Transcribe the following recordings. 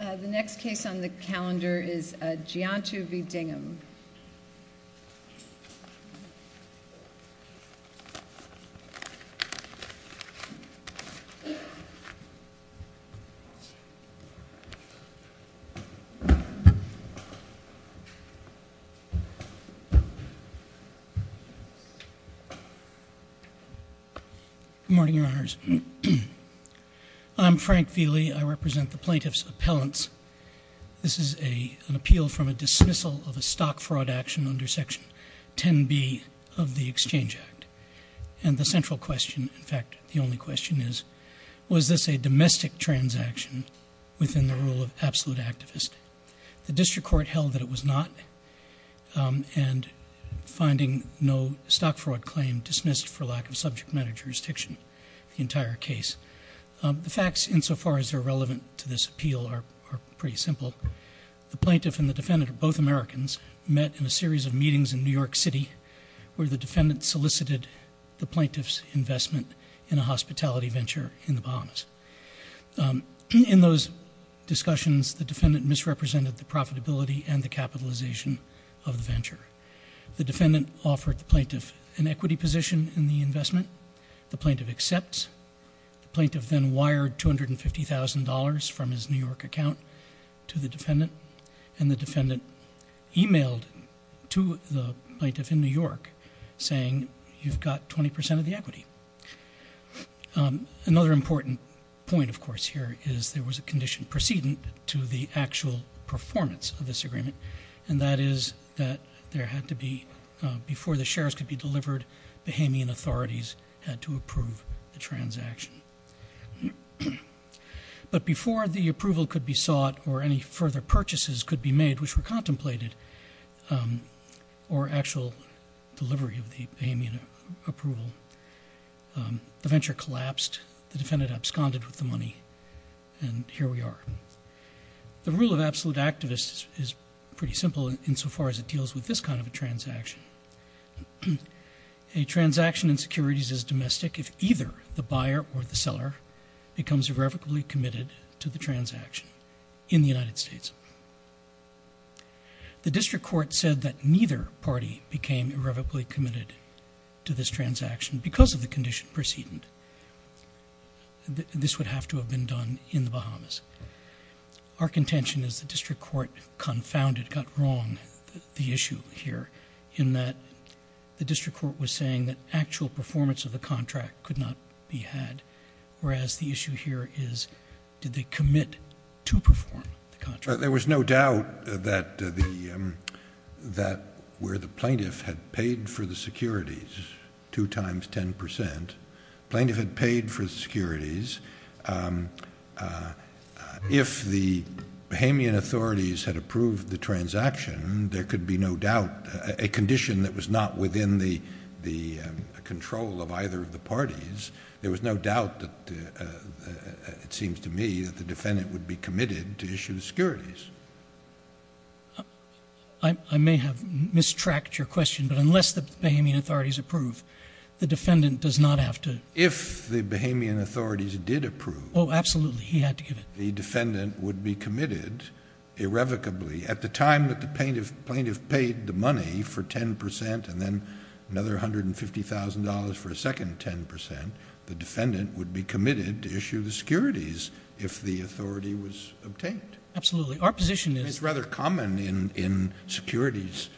The next case on the calendar is Giantu v. Dingham. Good morning, your honors. I'm Frank Vealey. I represent the plaintiffs' appellants. This is an appeal from a dismissal of a stock fraud action under Section 10B of the Exchange Act. And the central question, in fact, the only question is, was this a domestic transaction within the rule of absolute activist? The district court held that it was not, and finding no stock fraud claim dismissed for lack of subject matter jurisdiction the entire case. The facts insofar as they're relevant to this appeal are pretty simple. The plaintiff and the defendant are both Americans, met in a series of meetings in New York City where the defendant solicited the plaintiff's investment in a hospitality venture in the Bahamas. In those discussions, the defendant misrepresented the profitability and the capitalization of the venture. The defendant offered the plaintiff an equity position in the investment. The plaintiff accepts. The plaintiff then wired $250,000 from his New York account to the defendant. And the defendant emailed to the plaintiff in New York saying, you've got 20% of the equity. Another important point, of course, here is there was a condition precedent to the actual performance of this agreement. And that is that there had to be, before the shares could be delivered, Bahamian authorities had to approve the transaction. But before the approval could be sought or any further purchases could be made, which were contemplated, or actual delivery of the Bahamian approval, the venture collapsed. The defendant absconded with the money, and here we are. The rule of absolute activists is pretty simple insofar as it deals with this kind of a transaction. A transaction in securities is domestic if either the buyer or the seller becomes irrevocably committed to the transaction in the United States. The district court said that neither party became irrevocably committed to this transaction because of the condition precedent. This would have to have been done in the Bahamas. Our contention is the district court confounded, got wrong the issue here, in that the district court was saying that actual performance of the contract could not be had. Whereas the issue here is, did they commit to perform the contract? There was no doubt that where the plaintiff had paid for the securities, 2 times 10%, plaintiff had paid for the securities. If the Bahamian authorities had approved the transaction, there could be no doubt, a condition that was not within the control of either of the parties. There was no doubt that, it seems to me, that the defendant would be committed to issue the securities. I may have mistracked your question, but unless the Bahamian authorities approve, the defendant does not have to. If the Bahamian authorities did approve. Absolutely, he had to give it. The defendant would be committed irrevocably. At the time that the plaintiff paid the money for 10% and then another $150,000 for a second 10%. The defendant would be committed to issue the securities if the authority was obtained. Absolutely, our position is- It's rather common in securities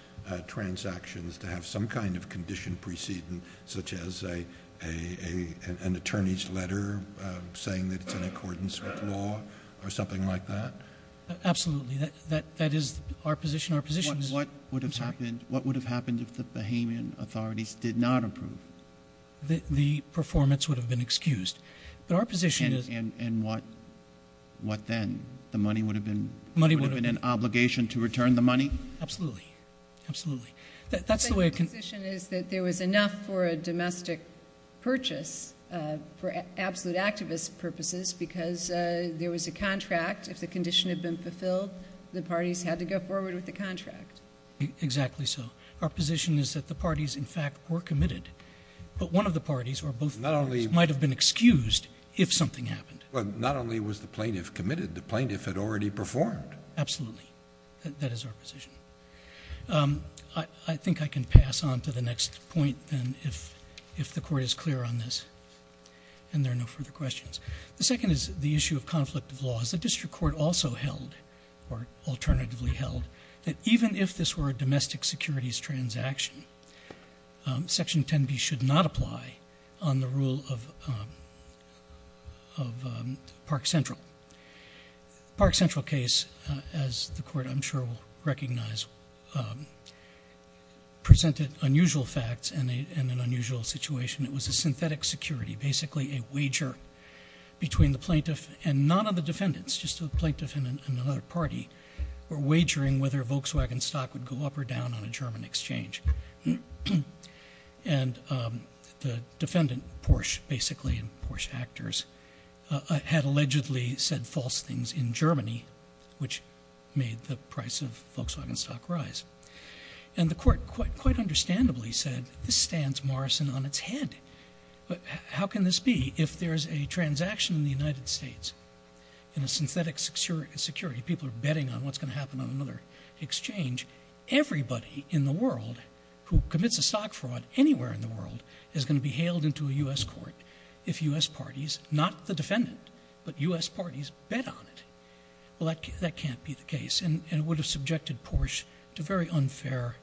transactions to have some kind of condition preceding, such as an attorney's letter saying that it's in accordance with law or something like that. Absolutely, that is our position. Our position is- What would have happened if the Bahamian authorities did not approve? But our position is- And what then? The money would have been- Money would have been- An obligation to return the money? Absolutely, absolutely. That's the way it can- Our position is that there was enough for a domestic purchase for absolute activist purposes because there was a contract. If the condition had been fulfilled, the parties had to go forward with the contract. Exactly so. Our position is that the parties, in fact, were committed. But one of the parties or both parties might have been excused if something happened. Well, not only was the plaintiff committed, the plaintiff had already performed. Absolutely, that is our position. I think I can pass on to the next point, then, if the court is clear on this and there are no further questions. The second is the issue of conflict of laws. The district court also held, or alternatively held, that even if this were a domestic securities transaction, section 10B should not apply on the rule of Park Central. Park Central case, as the court, I'm sure, will recognize, presented unusual facts and an unusual situation. It was a synthetic security, basically a wager between the plaintiff and none of the defendants. Just the plaintiff and another party were wagering whether Volkswagen stock would go up or down on a German exchange. And the defendant, Porsche, basically, and Porsche actors, had allegedly said false things in Germany, which made the price of Volkswagen stock rise. And the court, quite understandably, said, this stands Morrison on its head. But how can this be if there's a transaction in the United States? In a synthetic security, people are betting on what's going to happen on another exchange. Everybody in the world who commits a stock fraud anywhere in the world is going to be hailed into a US court. If US parties, not the defendant, but US parties, bet on it. Well, that can't be the case. And it would have subjected Porsche to very unfair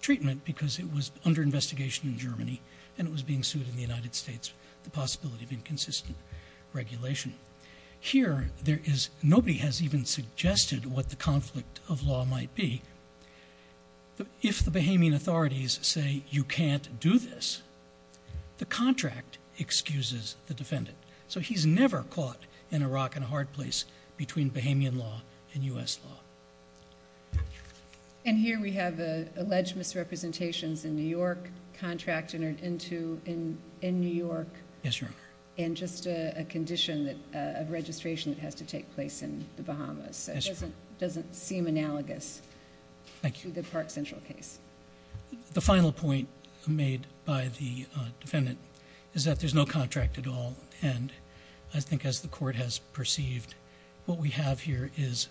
treatment because it was under investigation in Germany. And it was being sued in the United States, the possibility of inconsistent regulation. Here, nobody has even suggested what the conflict of law might be. If the Bahamian authorities say you can't do this, the contract excuses the defendant. So he's never caught in a rock and a hard place between Bahamian law and US law. And here we have alleged misrepresentations in New York, contract entered into in New York. Yes, Your Honor. And just a condition of registration that has to take place in the Bahamas. So it doesn't seem analogous to the Park Central case. The final point made by the defendant is that there's no contract at all. And I think as the court has perceived, what we have here is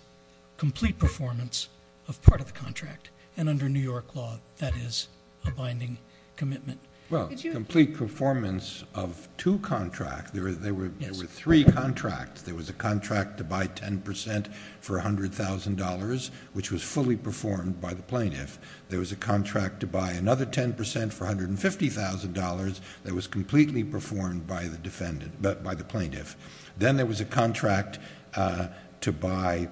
complete performance of part of the contract. And under New York law, that is a binding commitment. Well, complete performance of two contracts, there were three contracts. There was a contract to buy 10% for $100,000, which was fully performed by the plaintiff. There was a contract to buy another 10% for $150,000 that was completely performed by the plaintiff. Then there was a contract to buy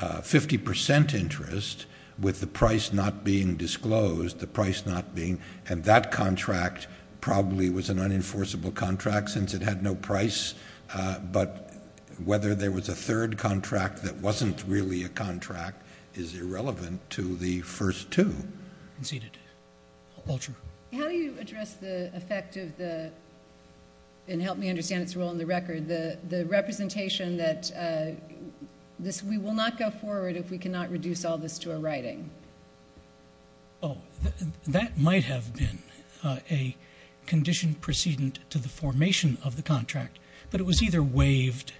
50% interest with the price not being disclosed. The price not being, and that contract probably was an unenforceable contract since it had no price. But whether there was a third contract that wasn't really a contract is irrelevant to the first two. Conceded. Walter. How do you address the effect of the, and help me understand it's role in the record, the representation that we will not go forward if we cannot reduce all this to a writing? That might have been a condition precedent to the formation of the contract. But it was either waived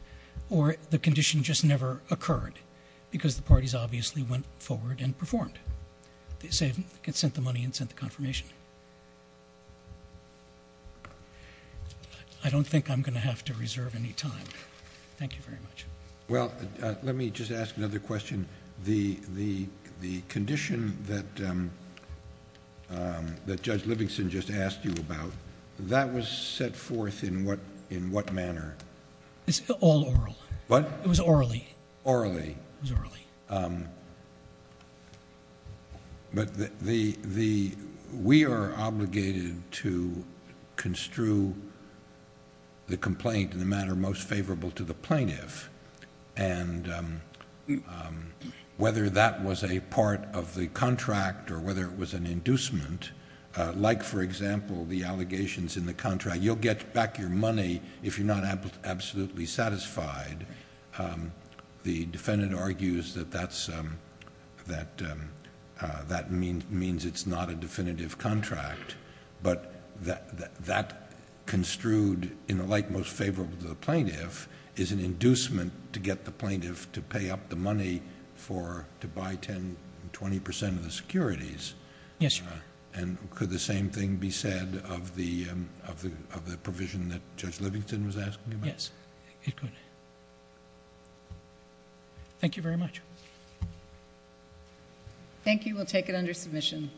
or the condition just never occurred because the parties obviously went forward and performed. They sent the money and sent the confirmation. I don't think I'm going to have to reserve any time. Thank you very much. Well, let me just ask another question. The condition that Judge Livingston just asked you about, that was set forth in what manner? It's all oral. It was orally. Orally. It was orally. But we are obligated to construe the complaint in the manner most favorable to the plaintiff. And whether that was a part of the contract or whether it was an inducement, like for example, the allegations in the contract, you'll get back your money if you're not absolutely satisfied. The defendant argues that that means it's not a definitive contract. But that construed in the like most favorable to the plaintiff is an inducement to get the plaintiff to pay up the money to buy 10, 20% of the securities. Yes, Your Honor. And could the same thing be said of the provision that Judge Livingston was asking about? Yes, it could. Thank you very much. Thank you. We'll take it under submission.